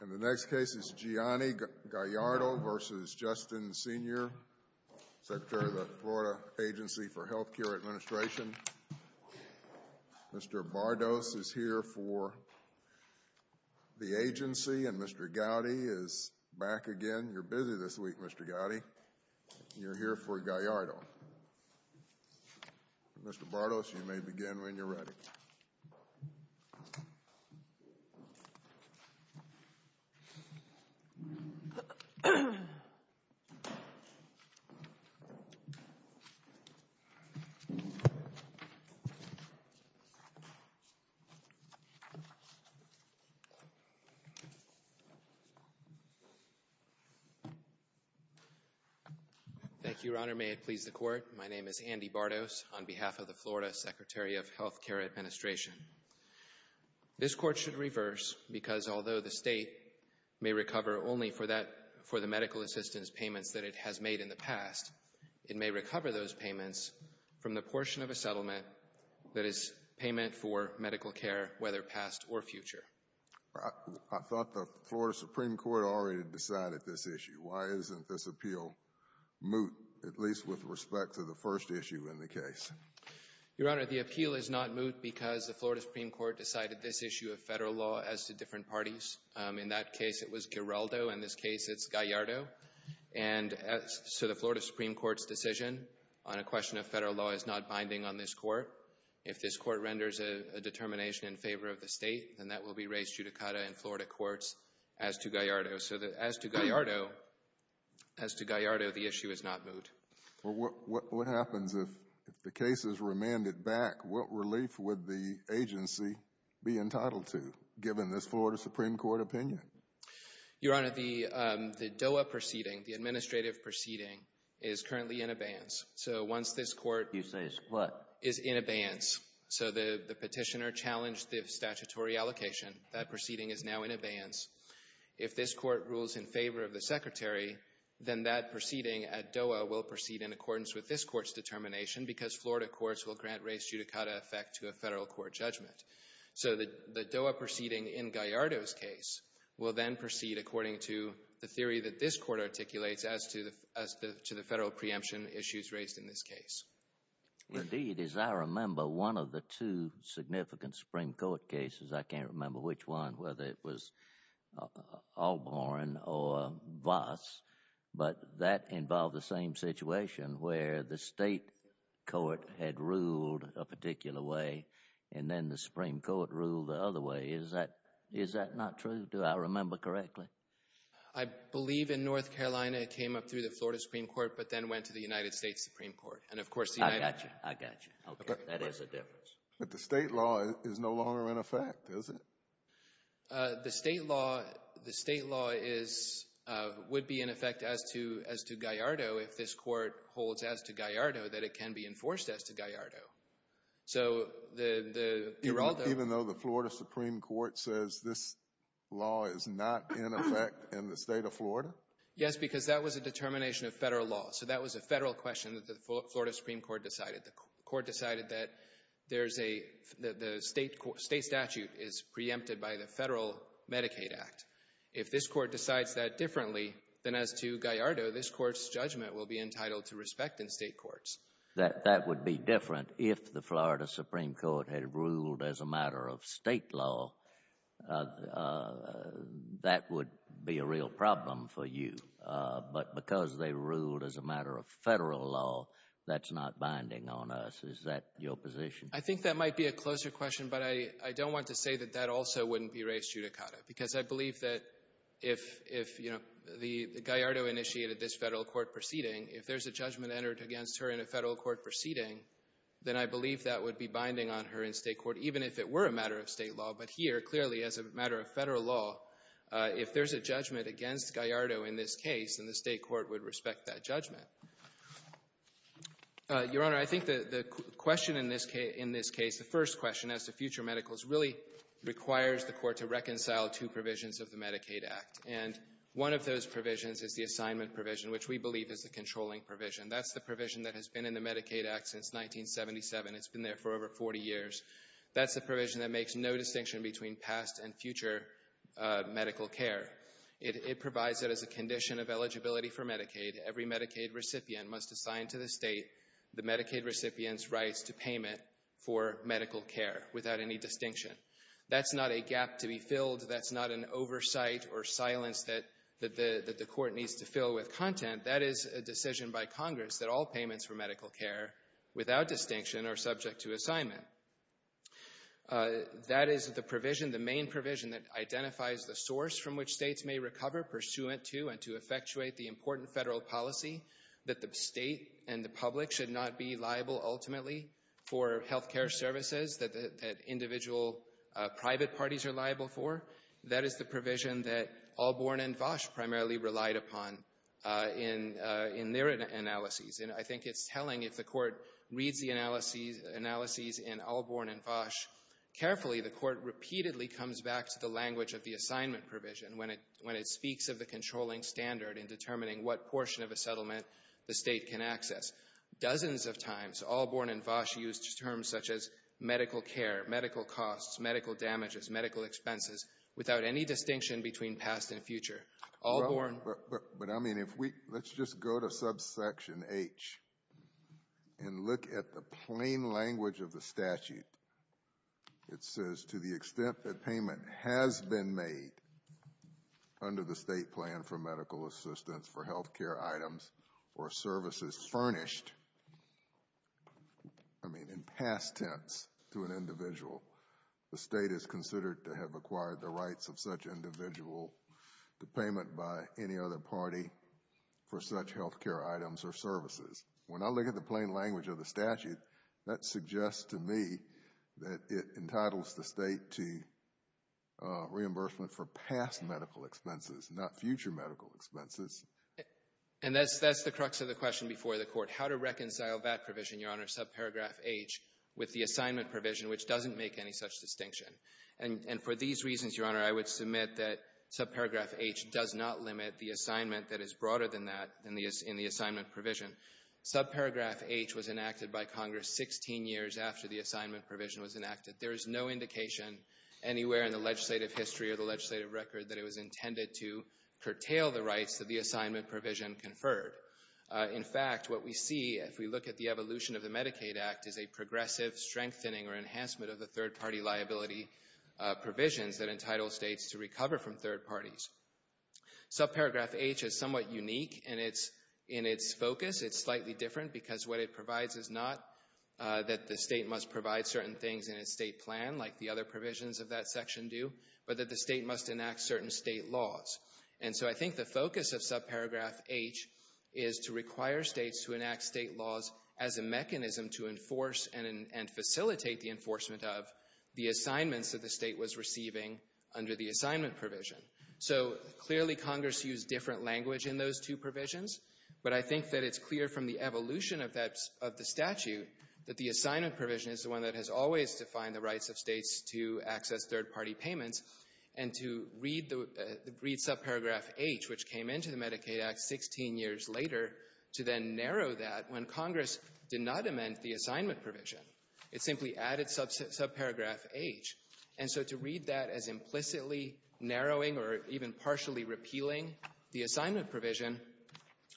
and the next case is Gianni Gallardo v. Justin Senior, Secretary of the Florida Agency for Healthcare Administration. Mr. Bardos is here for the agency and Mr. Gowdy is back again. You're busy this week, Mr. Gowdy. You're here for Gallardo. Mr. Bardos, you may begin when you're ready. Thank you, Your Honor. May it please the Court, my name is Andy Bardos. On behalf of the Florida Agency for Healthcare Administration, this Court should reverse because although the state may recover only for the medical assistance payments that it has made in the past, it may recover those payments from the portion of a settlement that is payment for medical care, whether past or future. I thought the Florida Supreme Court already decided this issue. Why isn't this appeal moot, at least with respect to the first issue in the case? Your Honor, the appeal is not moot because the Florida Supreme Court decided this issue of Federal law as to different parties. In that case, it was Giraldo. In this case, it's Gallardo. And so the Florida Supreme Court's decision on a question of Federal law is not binding on this Court. If this Court renders a determination in favor of the state, then that will be raised judicata in Florida courts as to Gallardo. So as to Gallardo, the issue is not moot. What happens if the case is remanded back? What relief would the agency be entitled to, given this Florida Supreme Court opinion? Your Honor, the DOA proceeding, the administrative proceeding, is currently in abeyance. So once this Court is in abeyance, so the petitioner challenged the statutory allocation, that proceeding is now in abeyance. If this Court rules in favor of the Secretary, then that proceeding at DOA will proceed in accordance with this Court's determination because Florida courts will grant raised judicata effect to a Federal court judgment. So the DOA proceeding in Gallardo's case will then proceed according to the theory that this Court articulates as to the Federal preemption issues raised in this case. Indeed, as I remember, one of the two significant Supreme Court cases, I can't remember which one, whether it was Albarn or Voss, but that involved the same situation where the state court had ruled a particular way and then the Supreme Court ruled the other way. Is that not true? Do I remember correctly? I believe in North Carolina it came up through the Florida Supreme Court, but then went to the United States Supreme Court. I got you. I got you. That is a difference. But the state law is no longer in effect, is it? The state law would be in effect as to Gallardo if this Court holds as to Gallardo that it can be enforced as to Gallardo. Even though the Florida Supreme Court says this law is not in effect in the State of Florida? Yes, because that was a determination of Federal law, so that was a Federal question that the Florida Supreme Court decided. The Court decided that the state statute is preempted by the Federal Medicaid Act. If this Court decides that differently than as to Gallardo, this Court's judgment will be entitled to respect in State courts. That would be different if the Florida Supreme Court had ruled as a matter of State law. That would be a real problem for you, but because they ruled as a matter of Federal law, that's not binding on us. Is that your position? I think that might be a closer question, but I don't want to say that that also wouldn't be res judicata, because I believe that if, you know, Gallardo initiated this Federal court proceeding, if there's a judgment entered against her in a Federal court proceeding, then I believe that would be binding on her in State court, even if it were a matter of State law. But here, clearly, as a matter of Federal law, if there's a judgment against Gallardo in this case, then the State court would respect that judgment. Your Honor, I think the question in this case, the first question, as to future medicals, really requires the Court to reconcile two provisions of the Medicaid Act. And one of those provisions is the assignment provision, which we believe is the controlling provision. That's the provision that has been in the Medicaid Act since 1977. It's been there for over 40 years. That's the provision that makes no distinction between past and future medical care. It provides it as a condition of eligibility for Medicaid. Every Medicaid recipient must assign to the State the Medicaid recipient's rights to payment for medical care, without any distinction. That's not a gap to be filled. That's not an oversight or silence that the Court needs to fill with content. That is a decision by Congress that all payments for medical care, without distinction, are subject to assignment. That is the provision, the main provision, that identifies the source from which States may recover pursuant to and to effectuate the important Federal policy that the State and the public should not be liable, ultimately, for health care services that individual private parties are liable for. That is the provision that Allborn and Vosch primarily relied upon in their analyses. And I think it's telling if the Court reads the analyses in Allborn and Vosch carefully, the Court repeatedly comes back to the language of the assignment provision when it speaks of the controlling standard in determining what portion of a settlement the State can access. Dozens of times, Allborn and Vosch used terms such as medical care, medical costs, medical damages, medical expenses, without any distinction between past and future. But, I mean, let's just go to subsection H and look at the plain language of the statute. It says, to the extent that payment has been made under the State plan for medical assistance for health care items or services furnished, I mean, in past tense to an individual, the State is considered to have acquired the rights of such individual to payment by any other party for such health care items or services. When I look at the plain language of the statute, that suggests to me that it entitles the State to reimbursement for past medical expenses, not future medical expenses. And that's the crux of the question before the Court, how to reconcile that provision, Your Honor, subparagraph H, with the assignment provision, which doesn't make any such distinction. And for these reasons, Your Honor, I would submit that subparagraph H does not limit the assignment that is broader than that in the assignment provision. Subparagraph H was enacted by Congress 16 years after the assignment provision was enacted. There is no indication anywhere in the legislative history or the legislative record that it was intended to curtail the rights that the assignment provision conferred. In fact, what we see, if we look at the evolution of the Medicaid Act, is a progressive strengthening or enhancement of the third-party liability provisions that entitle States to recover from third parties. Subparagraph H is somewhat unique in its focus. It's slightly different because what it provides is not that the State must provide certain things in its State plan, like the other provisions of that section do, but that the State must enact certain State laws. And so I think the focus of subparagraph H is to require States to enact State laws as a mechanism to enforce and facilitate the enforcement of the assignments that the State was receiving under the assignment provision. So clearly Congress used different language in those two provisions, but I think that it's clear from the evolution of the statute that the assignment provision is the one that has always defined the rights of States to access third-party payments and to read subparagraph H, which came into the Medicaid Act 16 years later, to then narrow that when Congress did not amend the assignment provision. It simply added subparagraph H. And so to read that as implicitly narrowing or even partially repealing the assignment provision,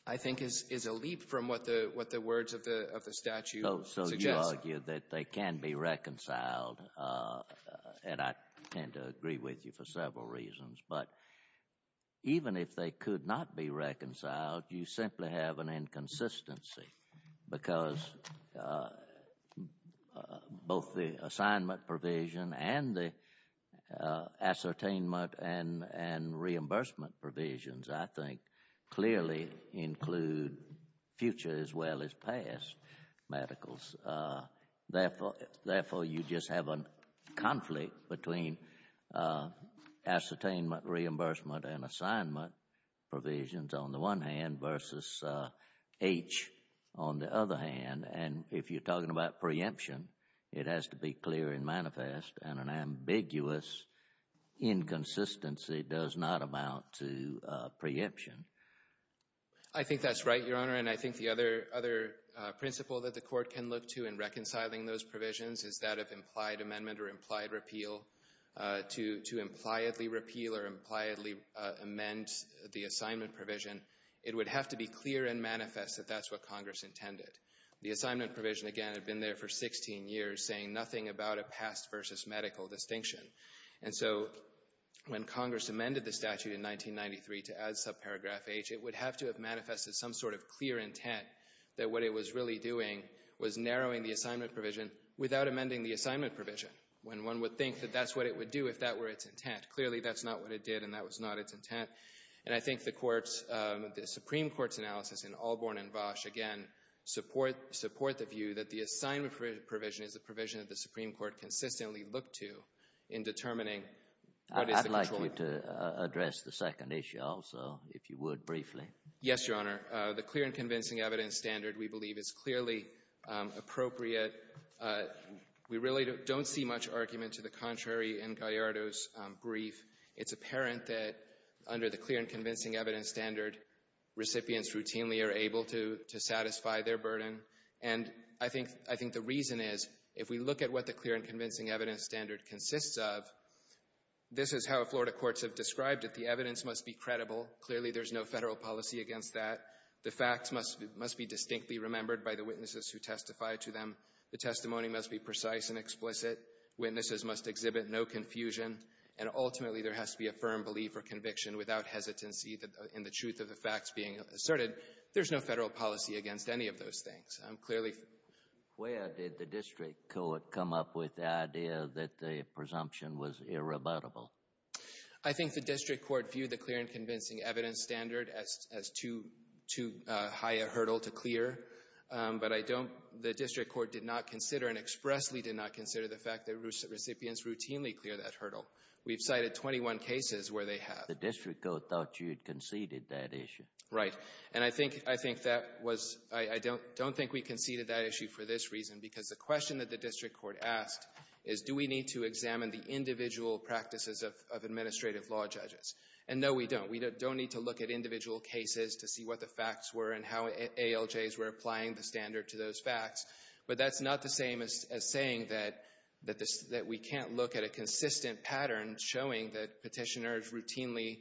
I think, is a leap from what the words of the statute suggest. I would argue that they can be reconciled, and I tend to agree with you for several reasons. But even if they could not be reconciled, you simply have an inconsistency because both the assignment provision and the ascertainment and reimbursement provisions, I think, clearly include future as well as past medicals. Therefore, you just have a conflict between ascertainment, reimbursement, and assignment provisions on the one hand versus H on the other hand. And if you're talking about preemption, it has to be clear and manifest, and an ambiguous inconsistency does not amount to preemption. I think that's right, Your Honor, and I think the other principle that the court can look to in reconciling those provisions is that of implied amendment or implied repeal. To impliedly repeal or impliedly amend the assignment provision, it would have to be clear and manifest that that's what Congress intended. The assignment provision, again, had been there for 16 years, saying nothing about a past versus medical distinction. And so when Congress amended the statute in 1993 to add subparagraph H, it would have to have manifested some sort of clear intent that what it was really doing was narrowing the assignment provision without amending the assignment provision, when one would think that that's what it would do if that were its intent. Clearly, that's not what it did, and that was not its intent. And I think the Supreme Court's analysis in Allborn and Bosch, again, support the view that the assignment provision is a provision that the Supreme Court consistently looked to in determining what is the control. I'd like you to address the second issue also, if you would, briefly. Yes, Your Honor. The clear and convincing evidence standard, we believe, is clearly appropriate. We really don't see much argument to the contrary in Gallardo's brief. It's apparent that under the clear and convincing evidence standard, recipients routinely are able to satisfy their burden. And I think the reason is, if we look at what the clear and convincing evidence standard consists of, this is how Florida courts have described it. The evidence must be credible. Clearly, there's no federal policy against that. The facts must be distinctly remembered by the witnesses who testify to them. The testimony must be precise and explicit. Witnesses must exhibit no confusion and ultimately there has to be a firm belief or conviction without hesitancy in the truth of the facts being asserted. There's no federal policy against any of those things. Where did the district court come up with the idea that the presumption was irrebuttable? I think the district court viewed the clear and convincing evidence standard as too high a hurdle to clear, but the district court did not consider and expressly did not consider the fact that recipients routinely clear that hurdle. We've cited 21 cases where they have. The district court thought you had conceded that issue. Right. And I think that was—I don't think we conceded that issue for this reason because the question that the district court asked is, do we need to examine the individual practices of administrative law judges? And no, we don't. We don't need to look at individual cases to see what the facts were and how ALJs were applying the standard to those facts, but that's not the same as saying that we can't look at a consistent pattern showing that petitioners routinely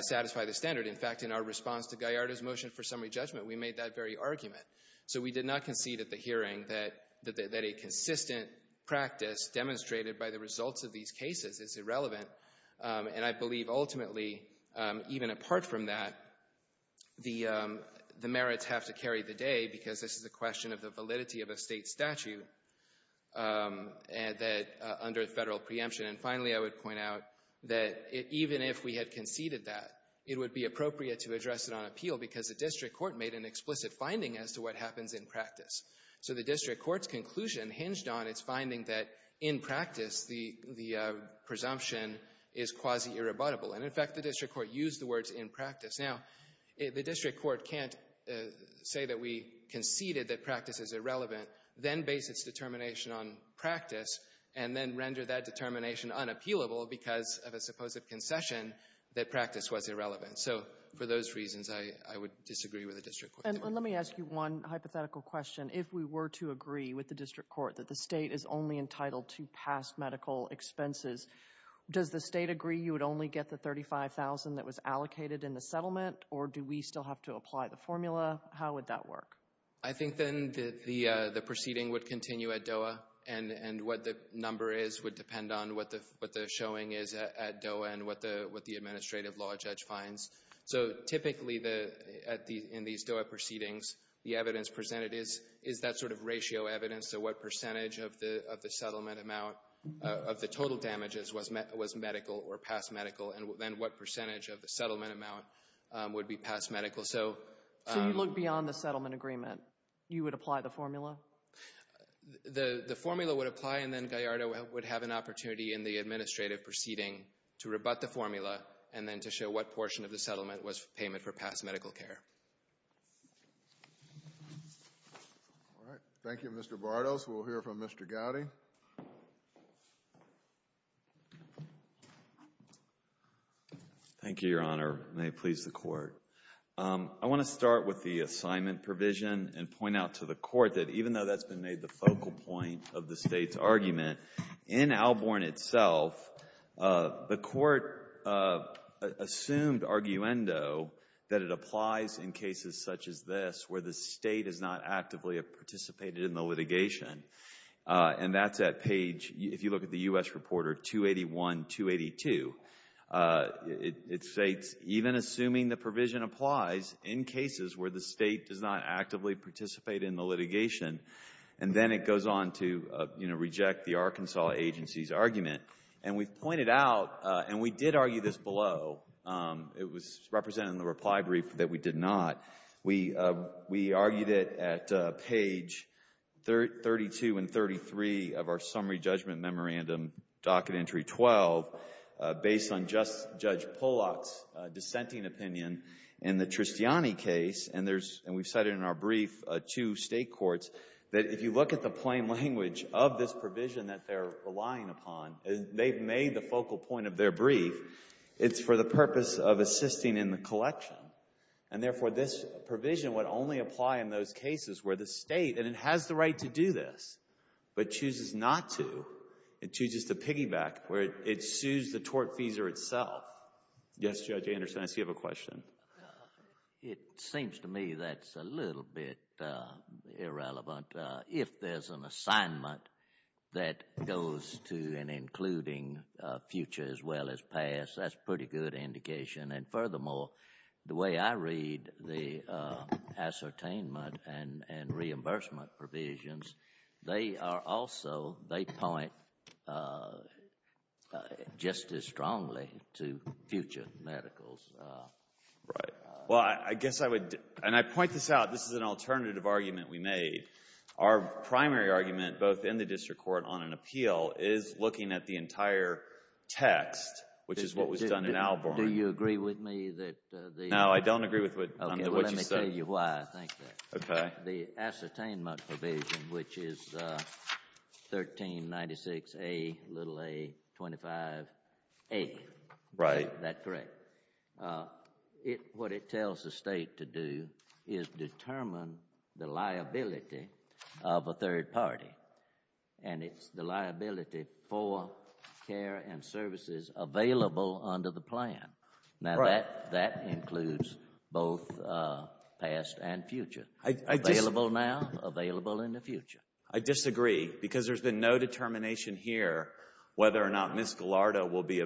satisfy the standard. In fact, in our response to Gallardo's motion for summary judgment, we made that very argument. So we did not concede at the hearing that a consistent practice demonstrated by the results of these cases is irrelevant, and I believe ultimately, even apart from that, the merits have to carry the day because this is a question of the validity of a state statute under federal preemption. And finally, I would point out that even if we had conceded that, it would be appropriate to address it on appeal because the district court made an explicit finding as to what happens in practice. So the district court's conclusion hinged on its finding that in practice, the presumption is quasi-irrebuttable. And in fact, the district court used the words in practice. Now, the district court can't say that we conceded that practice is irrelevant, then base its determination on practice, and then render that determination unappealable because of a supposed concession that practice was irrelevant. So for those reasons, I would disagree with the district court. And let me ask you one hypothetical question. If we were to agree with the district court that the state is only entitled to past medical expenses, does the state agree you would only get the $35,000 that was allocated in the settlement, or do we still have to apply the formula? How would that work? I think then the proceeding would continue at DOA, and what the number is would depend on what the showing is at DOA and what the administrative law judge finds. So typically in these DOA proceedings, the evidence presented is that sort of ratio evidence so what percentage of the settlement amount of the total damages was medical or past medical, and then what percentage of the settlement amount would be past medical. So you look beyond the settlement agreement. You would apply the formula? The formula would apply, and then Gallardo would have an opportunity in the administrative proceeding to rebut the formula and then to show what portion of the settlement was payment for past medical care. All right. Thank you, Mr. Bartos. We'll hear from Mr. Gowdy. Thank you, Your Honor. May it please the Court. I want to start with the assignment provision and point out to the Court that even though that's been made the focal point of the State's argument, in Alborn itself, the Court assumed arguendo that it applies in cases such as this where the State is not actively participated in the litigation, and that's at page, if you look at the U.S. Reporter, 281, 282. It states, even assuming the provision applies in cases where the State does not actively participate in the litigation, and then it goes on to reject the Arkansas agency's argument, and we've pointed out, and we did argue this below. It was represented in the reply brief that we did not. We argued it at page 32 and 33 of our summary judgment memorandum, docket entry 12, based on Judge Polak's dissenting opinion in the Tristiani case, and we've cited in our brief to State courts that if you look at the plain language of this provision that they're relying upon, they've made the focal point of their brief, it's for the purpose of assisting in the collection, and therefore this provision would only apply in those cases where the State, and it has the right to do this, but chooses not to. It chooses to piggyback where it sues the tortfeasor itself. Yes, Judge Anderson, I see you have a question. It seems to me that's a little bit irrelevant. If there's an assignment that goes to and including future as well as past, that's a pretty good indication, and furthermore, the way I read the ascertainment and reimbursement provisions, they are also, they point just as strongly to future medicals. Right. Well, I guess I would, and I point this out. This is an alternative argument we made. Our primary argument, both in the district court on an appeal, is looking at the entire text, which is what was done in Albarn. Do you agree with me that the No, I don't agree with what you said. Okay, well, let me tell you why I think that. Okay. The ascertainment provision, which is 1396A25A. Right. That's correct. What it tells the State to do is determine the liability of a third party, and it's the liability for care and services available under the plan. Right. Now, that includes both past and future. Available now, available in the future. I disagree, because there's been no determination here whether or not Ms. Gallardo will be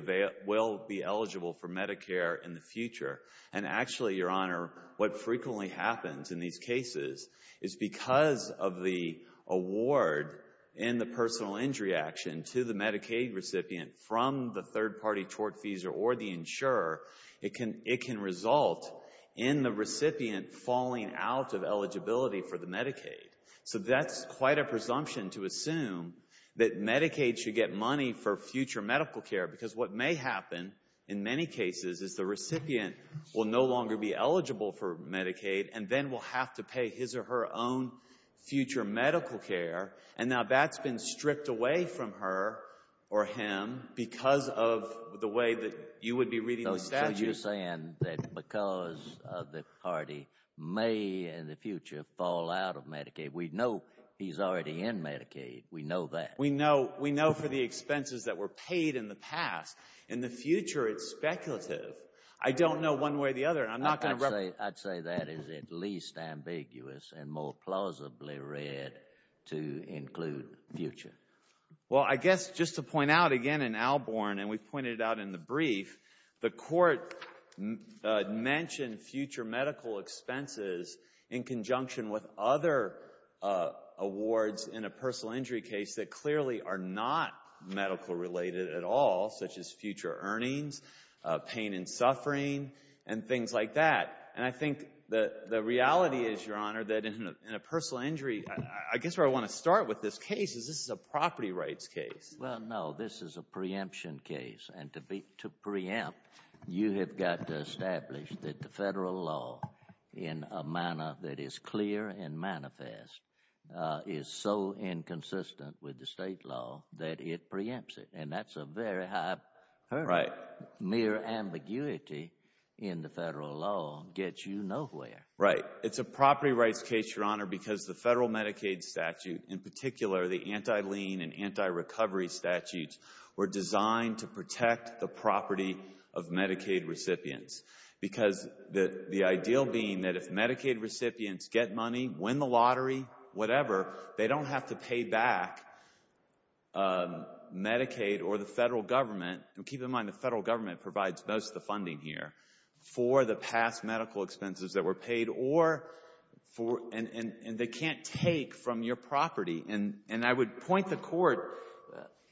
eligible for Medicare in the future. And actually, Your Honor, what frequently happens in these cases is because of the award in the personal injury action to the Medicaid recipient from the third party tortfeasor or the insurer, it can result in the recipient falling out of eligibility for the Medicaid. So that's quite a presumption to assume that Medicaid should get money for future medical care, because what may happen in many cases is the recipient will no longer be eligible for Medicaid and then will have to pay his or her own future medical care. And now that's been stripped away from her or him You're saying that because of the party may in the future fall out of Medicaid. We know he's already in Medicaid. We know that. We know for the expenses that were paid in the past. In the future, it's speculative. I don't know one way or the other. I'd say that is at least ambiguous and more plausibly read to include future. Well, I guess just to point out again in Alborn, and we've pointed it out in the brief, the court mentioned future medical expenses in conjunction with other awards in a personal injury case that clearly are not medical-related at all, such as future earnings, pain and suffering, and things like that. And I think the reality is, Your Honor, that in a personal injury, I guess where I want to start with this case is this is a property rights case. Well, no, this is a preemption case. And to preempt, you have got to establish that the federal law in a manner that is clear and manifest is so inconsistent with the state law that it preempts it. And that's a very high hurdle. Mere ambiguity in the federal law gets you nowhere. Right. It's a property rights case, Your Honor, because the federal Medicaid statute, in particular the anti-lien and anti-recovery statutes, were designed to protect the property of Medicaid recipients. Because the ideal being that if Medicaid recipients get money, win the lottery, whatever, they don't have to pay back Medicaid or the federal government. And keep in mind the federal government provides most of the funding here for the past medical expenses that were paid, and they can't take from your property. And I would point the Court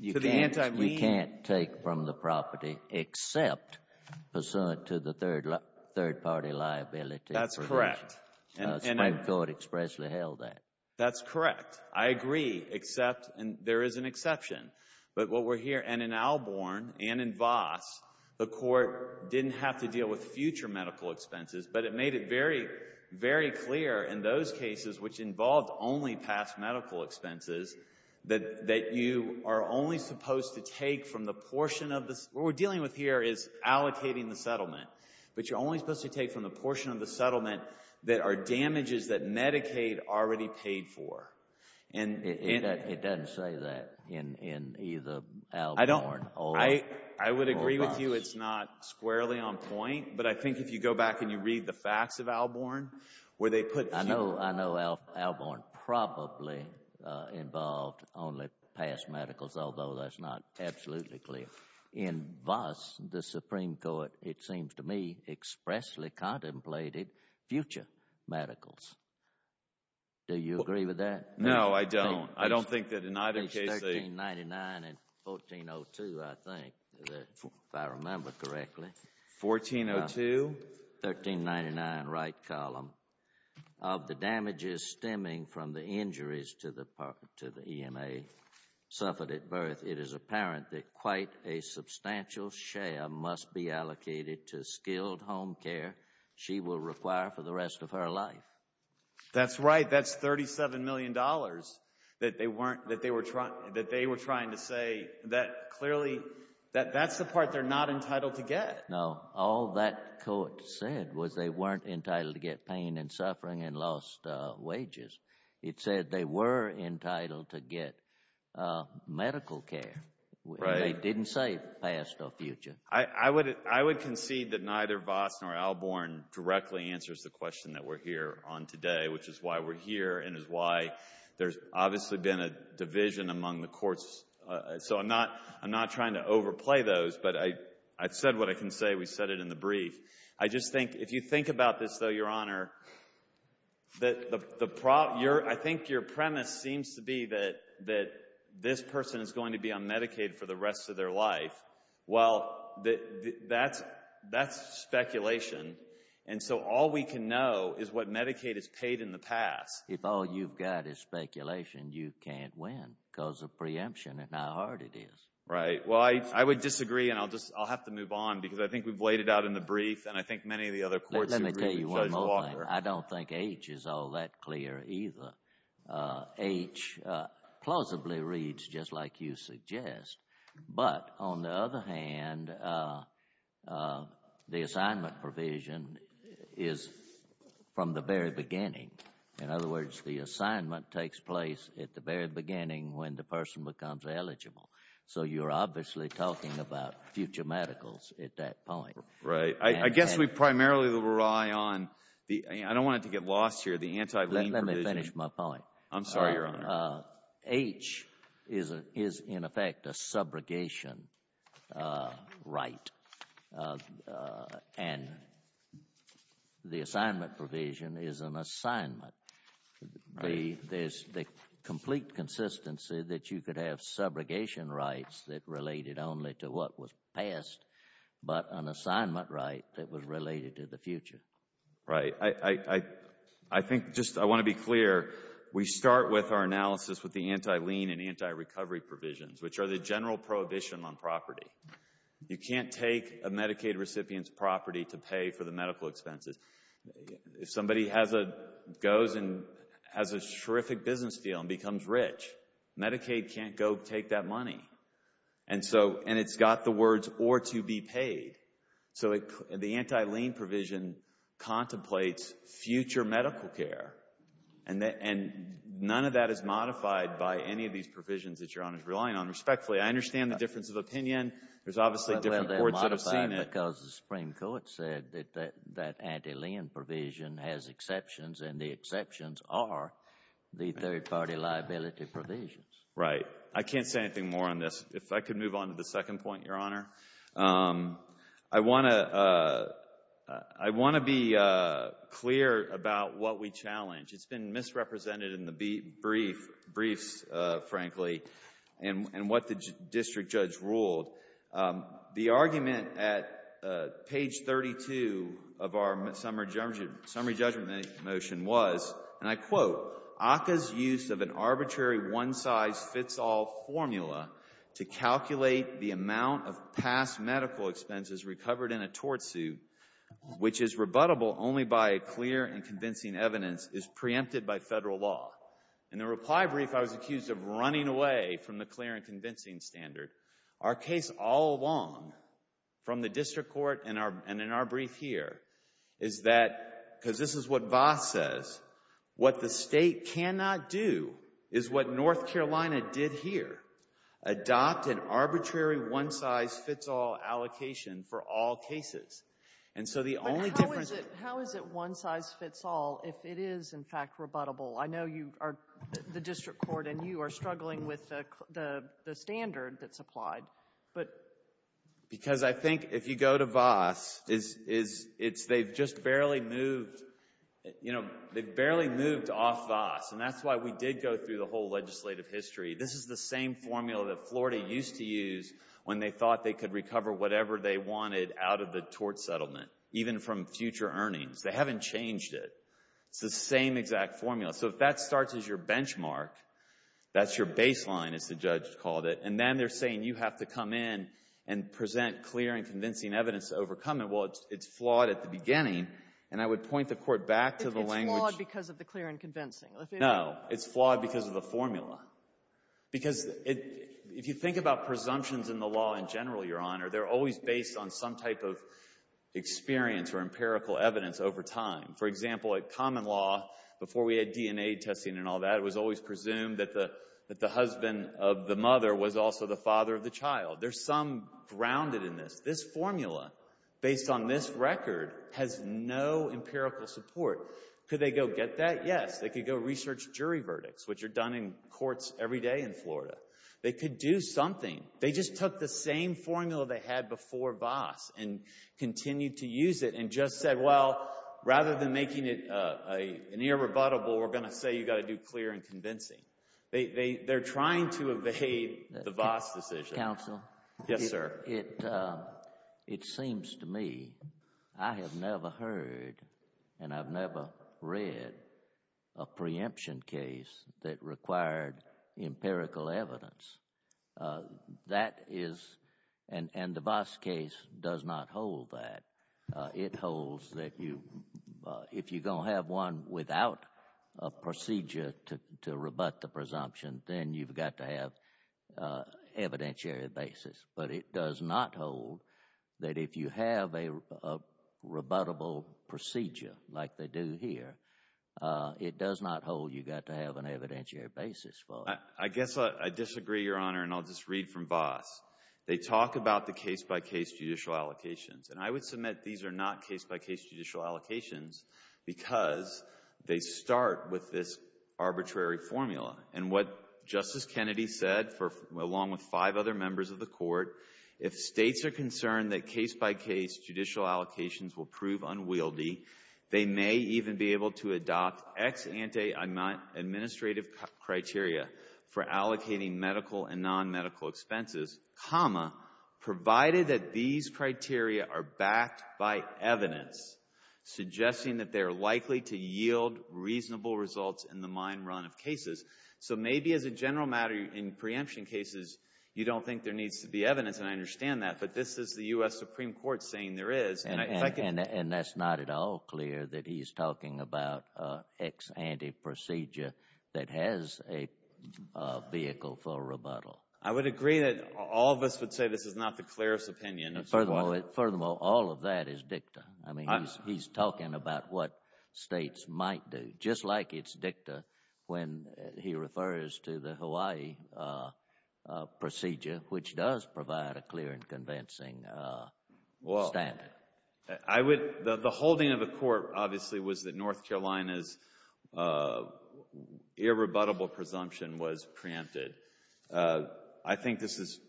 to the anti-lien. You can't take from the property except pursuant to the third-party liability provision. That's correct. The Supreme Court expressly held that. That's correct. I agree, except there is an exception. But what we're hearing, and in Alborn and in Voss, the Court didn't have to deal with future medical expenses, but it made it very, very clear in those cases, which involved only past medical expenses, that you are only supposed to take from the portion of this. What we're dealing with here is allocating the settlement. But you're only supposed to take from the portion of the settlement that are damages that Medicaid already paid for. It doesn't say that in either Alborn or Voss. I would agree with you it's not squarely on point, but I think if you go back and you read the facts of Alborn, where they put fewer. I know Alborn probably involved only past medicals, although that's not absolutely clear. In Voss, the Supreme Court, it seems to me, expressly contemplated future medicals. Do you agree with that? No, I don't. I don't think that in either case they. It's 1399 and 1402, I think, if I remember correctly. 1402. 1399, right column. Of the damages stemming from the injuries to the EMA suffered at birth, it is apparent that quite a substantial share must be allocated to skilled home care she will require for the rest of her life. That's right. That's $37 million that they were trying to say. That's the part they're not entitled to get. No, all that court said was they weren't entitled to get pain and suffering and lost wages. It said they were entitled to get medical care. They didn't say past or future. I would concede that neither Voss nor Alborn directly answers the question that we're here on today, which is why we're here and is why there's obviously been a division among the courts. So I'm not trying to overplay those, but I've said what I can say. We said it in the brief. I just think if you think about this, though, Your Honor, I think your premise seems to be that this person is going to be on Medicaid for the rest of their life. Well, that's speculation. And so all we can know is what Medicaid has paid in the past. If all you've got is speculation, you can't win because of preemption, and how hard it is. Right. Well, I would disagree, and I'll have to move on, because I think we've laid it out in the brief, and I think many of the other courts agree with Judge Walker. Let me tell you one more thing. I don't think H is all that clear either. H plausibly reads just like you suggest. But on the other hand, the assignment provision is from the very beginning. In other words, the assignment takes place at the very beginning when the person becomes eligible. So you're obviously talking about future medicals at that point. Right. I guess we primarily will rely on the – I don't want it to get lost here – the anti-lien provision. Let me finish my point. I'm sorry, Your Honor. H is, in effect, a subrogation right. And the assignment provision is an assignment. There's the complete consistency that you could have subrogation rights that related only to what was past, but an assignment right that was related to the future. Right. I think, just I want to be clear, we start with our analysis with the anti-lien and anti-recovery provisions, which are the general prohibition on property. You can't take a Medicaid recipient's property to pay for the medical expenses. If somebody goes and has a terrific business deal and becomes rich, Medicaid can't go take that money. And it's got the words, or to be paid. So the anti-lien provision contemplates future medical care, and none of that is modified by any of these provisions that Your Honor is relying on. Respectfully, I understand the difference of opinion. There's obviously different courts that have seen it. Well, they're modified because the Supreme Court said that that anti-lien provision has exceptions, and the exceptions are the third-party liability provisions. Right. I can't say anything more on this. If I could move on to the second point, Your Honor. I want to be clear about what we challenge. It's been misrepresented in the briefs, frankly, and what the district judge ruled. The argument at page 32 of our summary judgment motion was, and I quote, ACCA's use of an arbitrary one-size-fits-all formula to calculate the amount of past medical expenses recovered in a tort suit, which is rebuttable only by clear and convincing evidence, is preempted by Federal law. In the reply brief, I was accused of running away from the clear and convincing standard. Our case all along, from the district court and in our brief here, is that, because this is what Vaas says, what the State cannot do is what North Carolina did here, adopt an arbitrary one-size-fits-all allocation for all cases. And so the only difference How is it one-size-fits-all if it is, in fact, rebuttable? I know the district court and you are struggling with the standard that's applied. Because I think if you go to Vaas, they've just barely moved off Vaas, and that's why we did go through the whole legislative history. This is the same formula that Florida used to use when they thought they could recover whatever they wanted out of the tort settlement, even from future earnings. They haven't changed it. It's the same exact formula. So if that starts as your benchmark, that's your baseline, as the judge called it, and then they're saying you have to come in and present clear and convincing evidence to overcome it. Well, it's flawed at the beginning, and I would point the Court back to the language It's flawed because of the clear and convincing. No, it's flawed because of the formula. Because if you think about presumptions in the law in general, Your Honor, they're always based on some type of experience or empirical evidence over time. For example, at common law, before we had DNA testing and all that, it was always presumed that the husband of the mother was also the father of the child. There's some grounded in this. This formula, based on this record, has no empirical support. Could they go get that? Yes. They could go research jury verdicts, which are done in courts every day in Florida. They could do something. They just took the same formula they had before Vaas and continued to use it and just said, well, rather than making it an irrebuttable, we're going to say you've got to do clear and convincing. They're trying to evade the Vaas decision. Counsel? Yes, sir. It seems to me I have never heard and I've never read a preemption case that required empirical evidence. That is, and the Vaas case does not hold that. It holds that if you're going to have one without a procedure to rebut the presumption, then you've got to have an evidentiary basis. But it does not hold that if you have a rebuttable procedure like they do here, it does not hold you've got to have an evidentiary basis for it. I guess I disagree, Your Honor, and I'll just read from Vaas. They talk about the case-by-case judicial allocations and I would submit these are not case-by-case judicial allocations because they start with this arbitrary formula. And what Justice Kennedy said, along with five other members of the Court, if States are concerned that case-by-case judicial allocations will prove unwieldy, they may even be able to adopt ex ante administrative criteria for allocating medical and nonmedical expenses, provided that these criteria are backed by evidence suggesting that they are likely to yield reasonable results in the mine run of cases. So maybe as a general matter, in preemption cases, you don't think there needs to be evidence, and I understand that, but this is the U.S. Supreme Court saying there is. And that's not at all clear that he's talking about ex ante procedure that has a vehicle for rebuttal. I would agree that all of us would say this is not the clearest opinion. Furthermore, all of that is dicta. I mean, he's talking about what States might do, just like it's dicta when he refers to the Hawaii procedure, which does provide a clear and convincing standard. The holding of the Court, obviously, was that North Carolina's irrebuttable presumption was preempted. I think this is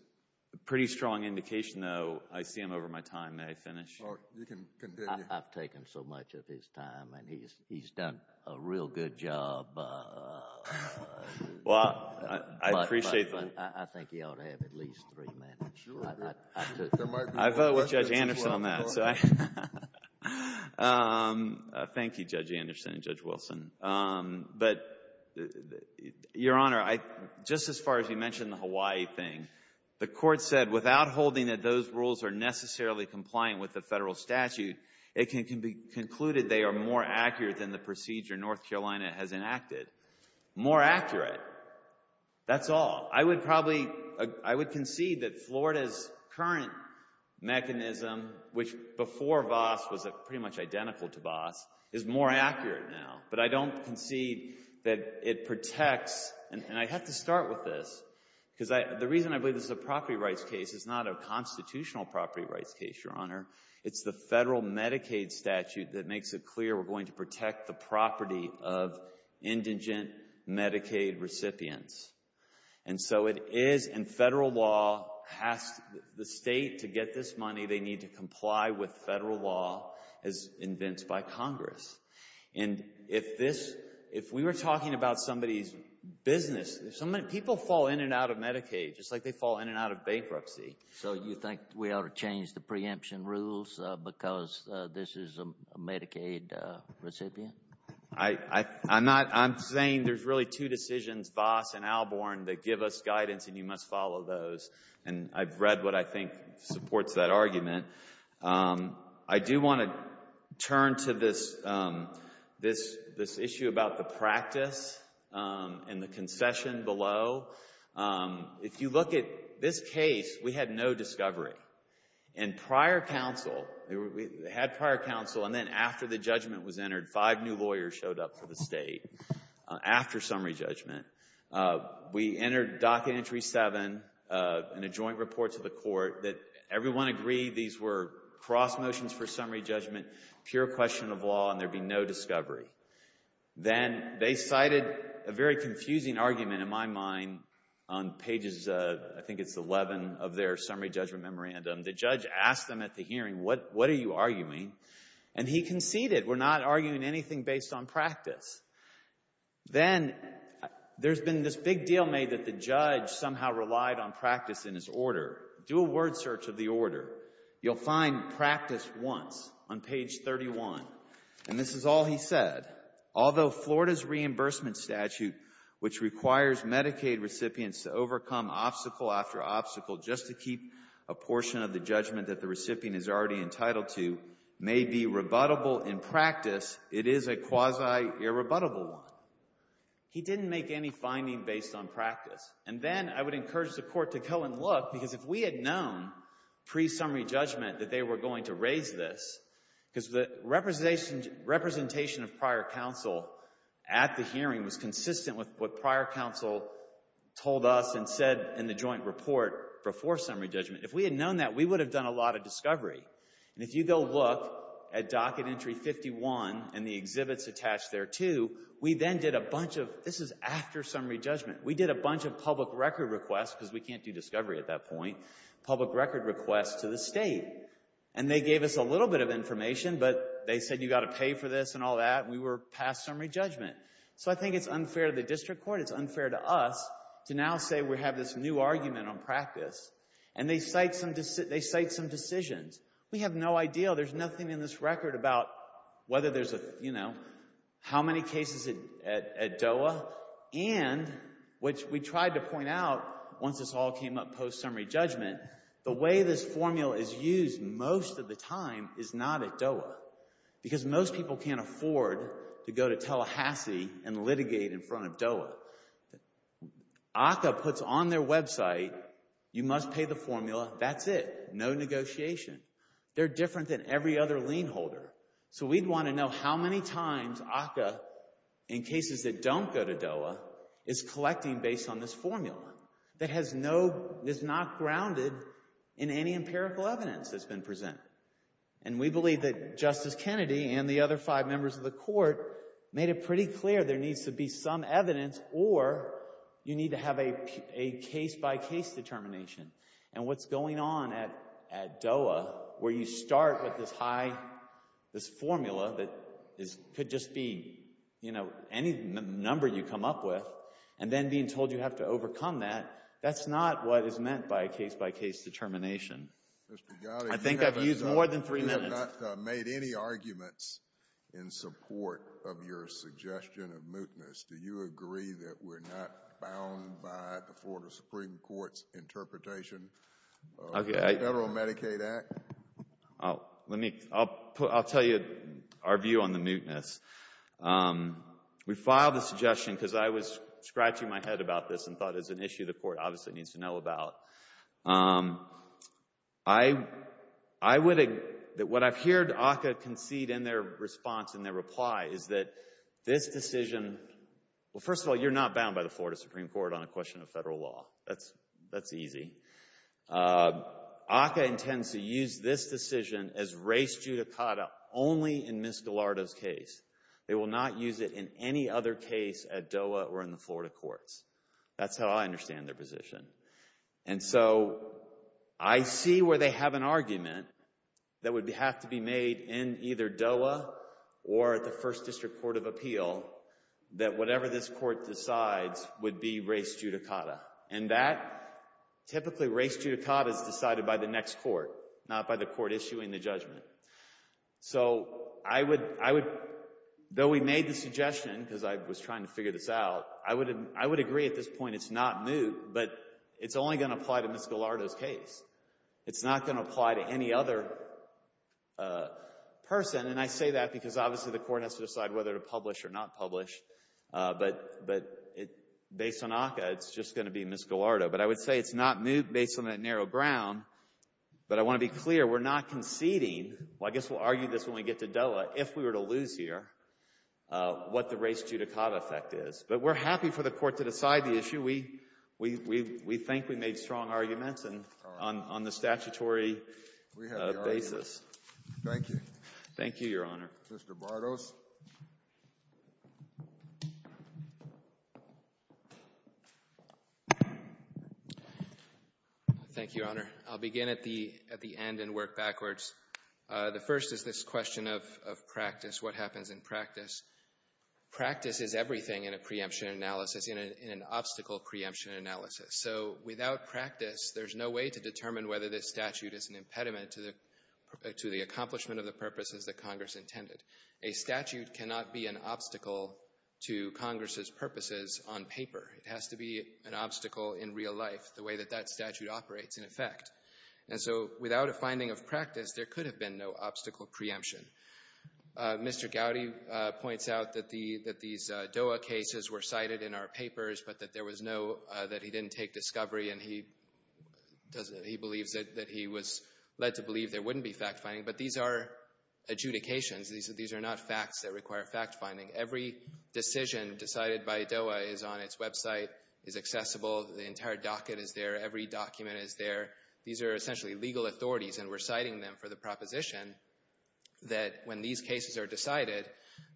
a pretty strong indication, though. I see him over my time. May I finish? You can continue. I've taken so much of his time, and he's done a real good job. Well, I appreciate that. But I think he ought to have at least three minutes. I vote with Judge Anderson on that. Thank you, Judge Anderson and Judge Wilson. But, Your Honor, just as far as you mentioned the Hawaii thing, the Court said without holding that those rules are necessarily compliant with the federal statute, it can be concluded they are more accurate than the procedure North Carolina has enacted. More accurate, that's all. I would concede that Florida's current mechanism, which before Voss was pretty much identical to Voss, is more accurate now. But I don't concede that it protects, and I have to start with this, because the reason I believe this is a property rights case is not a constitutional property rights case, Your Honor. It's the federal Medicaid statute that makes it clear we're going to protect the property of indigent Medicaid recipients. And so it is in federal law, the state, to get this money, they need to comply with federal law as invented by Congress. And if we were talking about somebody's business, people fall in and out of Medicaid just like they fall in and out of bankruptcy. So you think we ought to change the preemption rules because this is a Medicaid recipient? I'm saying there's really two decisions, Voss and Alborn, that give us guidance, and you must follow those. And I've read what I think supports that argument. I do want to turn to this issue about the practice and the concession below. If you look at this case, we had no discovery. And prior counsel, we had prior counsel, and then after the judgment was entered, five new lawyers showed up for the state after summary judgment. We entered Docket Entry 7 in a joint report to the court that everyone agreed these were cross motions for summary judgment, pure question of law, and there'd be no discovery. Then they cited a very confusing argument in my mind on pages, I think it's 11, of their summary judgment memorandum. The judge asked them at the hearing, what are you arguing? And he conceded, we're not arguing anything based on practice. Then there's been this big deal made that the judge somehow relied on practice in his order. Do a word search of the order. You'll find practice once on page 31. And this is all he said. Although Florida's reimbursement statute, which requires Medicaid recipients to overcome obstacle after obstacle just to keep a portion of the judgment that the recipient is already entitled to, may be rebuttable in practice, it is a quasi-irrebuttable one. He didn't make any finding based on practice. And then I would encourage the court to go and look, because if we had known pre-summary judgment that they were going to raise this, because the representation of prior counsel at the hearing was consistent with what prior counsel told us and said in the joint report before summary judgment, if we had known that, we would have done a lot of discovery. And if you go look at docket entry 51 and the exhibits attached there too, we then did a bunch of, this is after summary judgment, we did a bunch of public record requests, because we can't do discovery at that point, public record requests to the state. And they gave us a little bit of information, but they said you've got to pay for this and all that, and we were past summary judgment. So I think it's unfair to the district court, it's unfair to us, to now say we have this new argument on practice. And they cite some decisions. We have no idea. There's nothing in this record about whether there's a, you know, how many cases at DOA and, which we tried to point out once this all came up post-summary judgment, the way this formula is used most of the time is not at DOA, because most people can't afford to go to Tallahassee and litigate in front of DOA. ACCA puts on their website, you must pay the formula, that's it. No negotiation. They're different than every other lien holder. So we'd want to know how many times ACCA, in cases that don't go to DOA, is collecting based on this formula that has no, is not grounded in any empirical evidence that's been presented. And we believe that Justice Kennedy and the other five members of the court made it pretty clear there needs to be some evidence or you need to have a case-by-case determination. And what's going on at DOA, where you start with this high, this formula that could just be, you know, any number you come up with, and then being told you have to overcome that, that's not what is meant by a case-by-case determination. I think I've used more than three minutes. We have not made any arguments in support of your suggestion of mootness. Do you agree that we're not bound by the Florida Supreme Court's interpretation of the Federal Medicaid Act? I'll tell you our view on the mootness. We filed the suggestion because I was scratching my head about this and thought it was an issue the court obviously needs to know about. I would agree that what I've heard ACCA concede in their response and their reply is that this decision, well, first of all, you're not bound by the Florida Supreme Court on a question of federal law. That's easy. ACCA intends to use this decision as race judicata only in Ms. Gallardo's case. They will not use it in any other case at DOA or in the Florida courts. That's how I understand their position. And so I see where they have an argument that would have to be made in either DOA or at the First District Court of Appeal that whatever this court decides would be race judicata. And that typically race judicata is decided by the next court, not by the court issuing the judgment. So I would, though we made the suggestion because I was trying to figure this out, I would agree at this point it's not moot, but it's only going to apply to Ms. Gallardo's case. It's not going to apply to any other person, and I say that because obviously the court has to decide whether to publish or not publish. But based on ACCA, it's just going to be Ms. Gallardo. But I would say it's not moot based on that narrow ground, but I want to be clear we're not conceding, well, I guess we'll argue this when we get to DOA, if we were to lose here, what the race judicata effect is. But we're happy for the court to decide the issue. We think we made strong arguments on the statutory basis. Thank you. Thank you, Your Honor. Mr. Bartos. Thank you, Your Honor. I'll begin at the end and work backwards. The first is this question of practice, what happens in practice. Practice is everything in a preemption analysis, in an obstacle preemption analysis. So without practice, there's no way to determine whether this statute is an impediment to the accomplishment of the purposes that Congress intended. A statute cannot be an obstacle to Congress's purposes on paper. It has to be an obstacle in real life, the way that that statute operates in effect. And so without a finding of practice, there could have been no obstacle preemption. Mr. Gowdy points out that these DOA cases were cited in our papers, but that there was no, that he didn't take discovery and he believes that he was led to believe there wouldn't be fact-finding. But these are adjudications. These are not facts that require fact-finding. Every decision decided by DOA is on its website, is accessible. The entire docket is there. Every document is there. These are essentially legal authorities, and we're citing them for the proposition that when these cases are decided,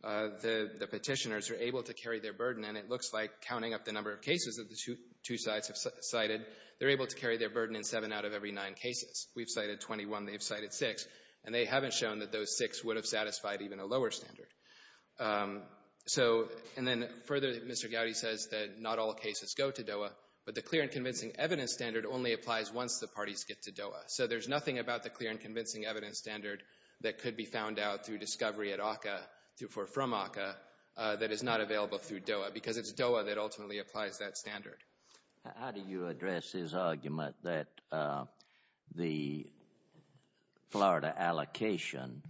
the petitioners are able to carry their burden. And it looks like, counting up the number of cases that the two sides have cited, they're able to carry their burden in seven out of every nine cases. We've cited 21. They've cited six. And they haven't shown that those six would have satisfied even a lower standard. So, and then further, Mr. Gowdy says that not all cases go to DOA, but the clear and convincing evidence standard only applies once the parties get to DOA. So there's nothing about the clear and convincing evidence standard that could be found out through discovery at ACCA, or from ACCA, that is not available through DOA, because it's DOA that ultimately applies that standard. How do you address his argument that the Florida allocation,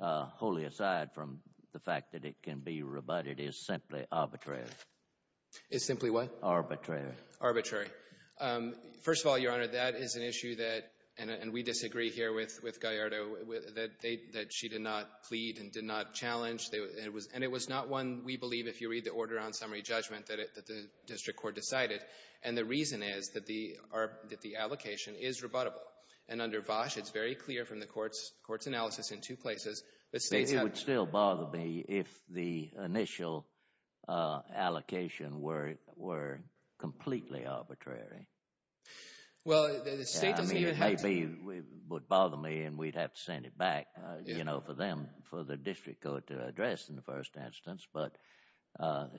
wholly aside from the fact that it can be rebutted, is simply arbitrary? It's simply what? Arbitrary. Arbitrary. First of all, Your Honor, that is an issue that, and we disagree here with Gallardo, that she did not plead and did not challenge. And it was not one, we believe, if you read the order on summary judgment, that the district court decided. And the reason is that the allocation is rebuttable. And under Vosh, it's very clear from the court's analysis in two places. It would still bother me if the initial allocation were completely arbitrary. Well, the state doesn't even have to. It would bother me and we'd have to send it back, you know, for them, for the district court to address in the first instance. But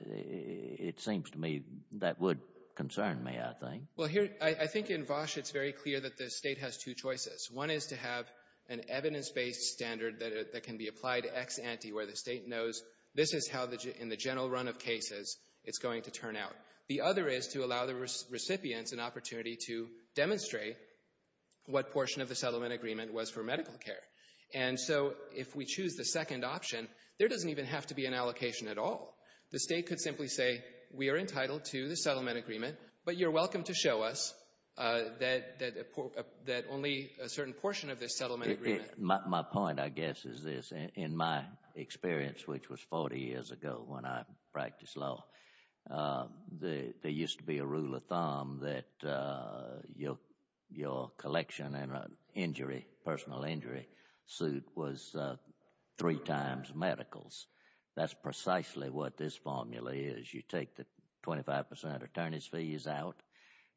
it seems to me that would concern me, I think. Well, I think in Vosh it's very clear that the state has two choices. One is to have an evidence-based standard that can be applied to ex ante, where the state knows this is how, in the general run of cases, it's going to turn out. The other is to allow the recipients an opportunity to demonstrate what portion of the settlement agreement was for medical care. And so if we choose the second option, there doesn't even have to be an allocation at all. The state could simply say we are entitled to the settlement agreement, but you're welcome to show us that only a certain portion of this settlement agreement. My point, I guess, is this. In my experience, which was 40 years ago when I practiced law, there used to be a rule of thumb that your collection in a personal injury suit was three times medicals. That's precisely what this formula is. You take the 25 percent attorney's fees out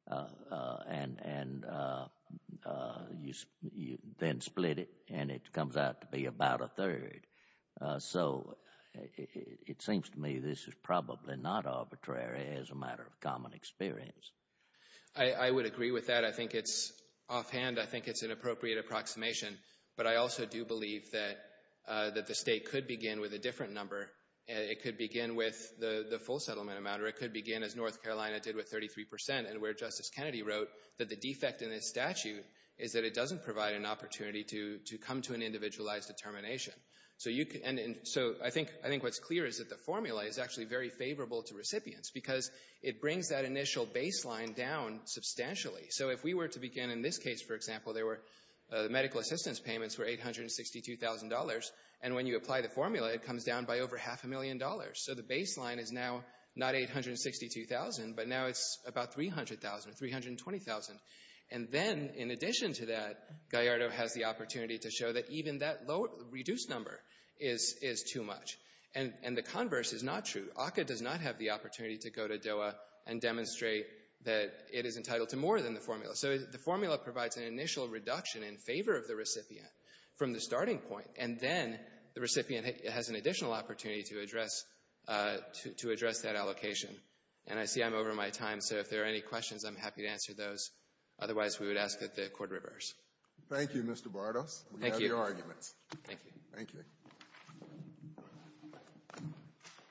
and then split it, and it comes out to be about a third. So it seems to me this is probably not arbitrary as a matter of common experience. I would agree with that. Offhand, I think it's an appropriate approximation, but I also do believe that the state could begin with a different number. It could begin with the full settlement amount, or it could begin, as North Carolina did, with 33 percent, and where Justice Kennedy wrote that the defect in this statute is that it doesn't provide an opportunity to come to an individualized determination. So I think what's clear is that the formula is actually very favorable to recipients because it brings that initial baseline down substantially. So if we were to begin in this case, for example, there were medical assistance payments for $862,000, and when you apply the formula, it comes down by over half a million dollars. So the baseline is now not $862,000, but now it's about $300,000 or $320,000. And then, in addition to that, Gallardo has the opportunity to show that even that reduced number is too much. And the converse is not true. ACCA does not have the opportunity to go to DOA and demonstrate that it is entitled to more than the formula. So the formula provides an initial reduction in favor of the recipient from the starting point, and then the recipient has an additional opportunity to address that allocation. And I see I'm over my time, so if there are any questions, I'm happy to answer those. Otherwise, we would ask that the Court reverse. Thank you, Mr. Bartos. Thank you. We have your arguments. Thank you. Thank you.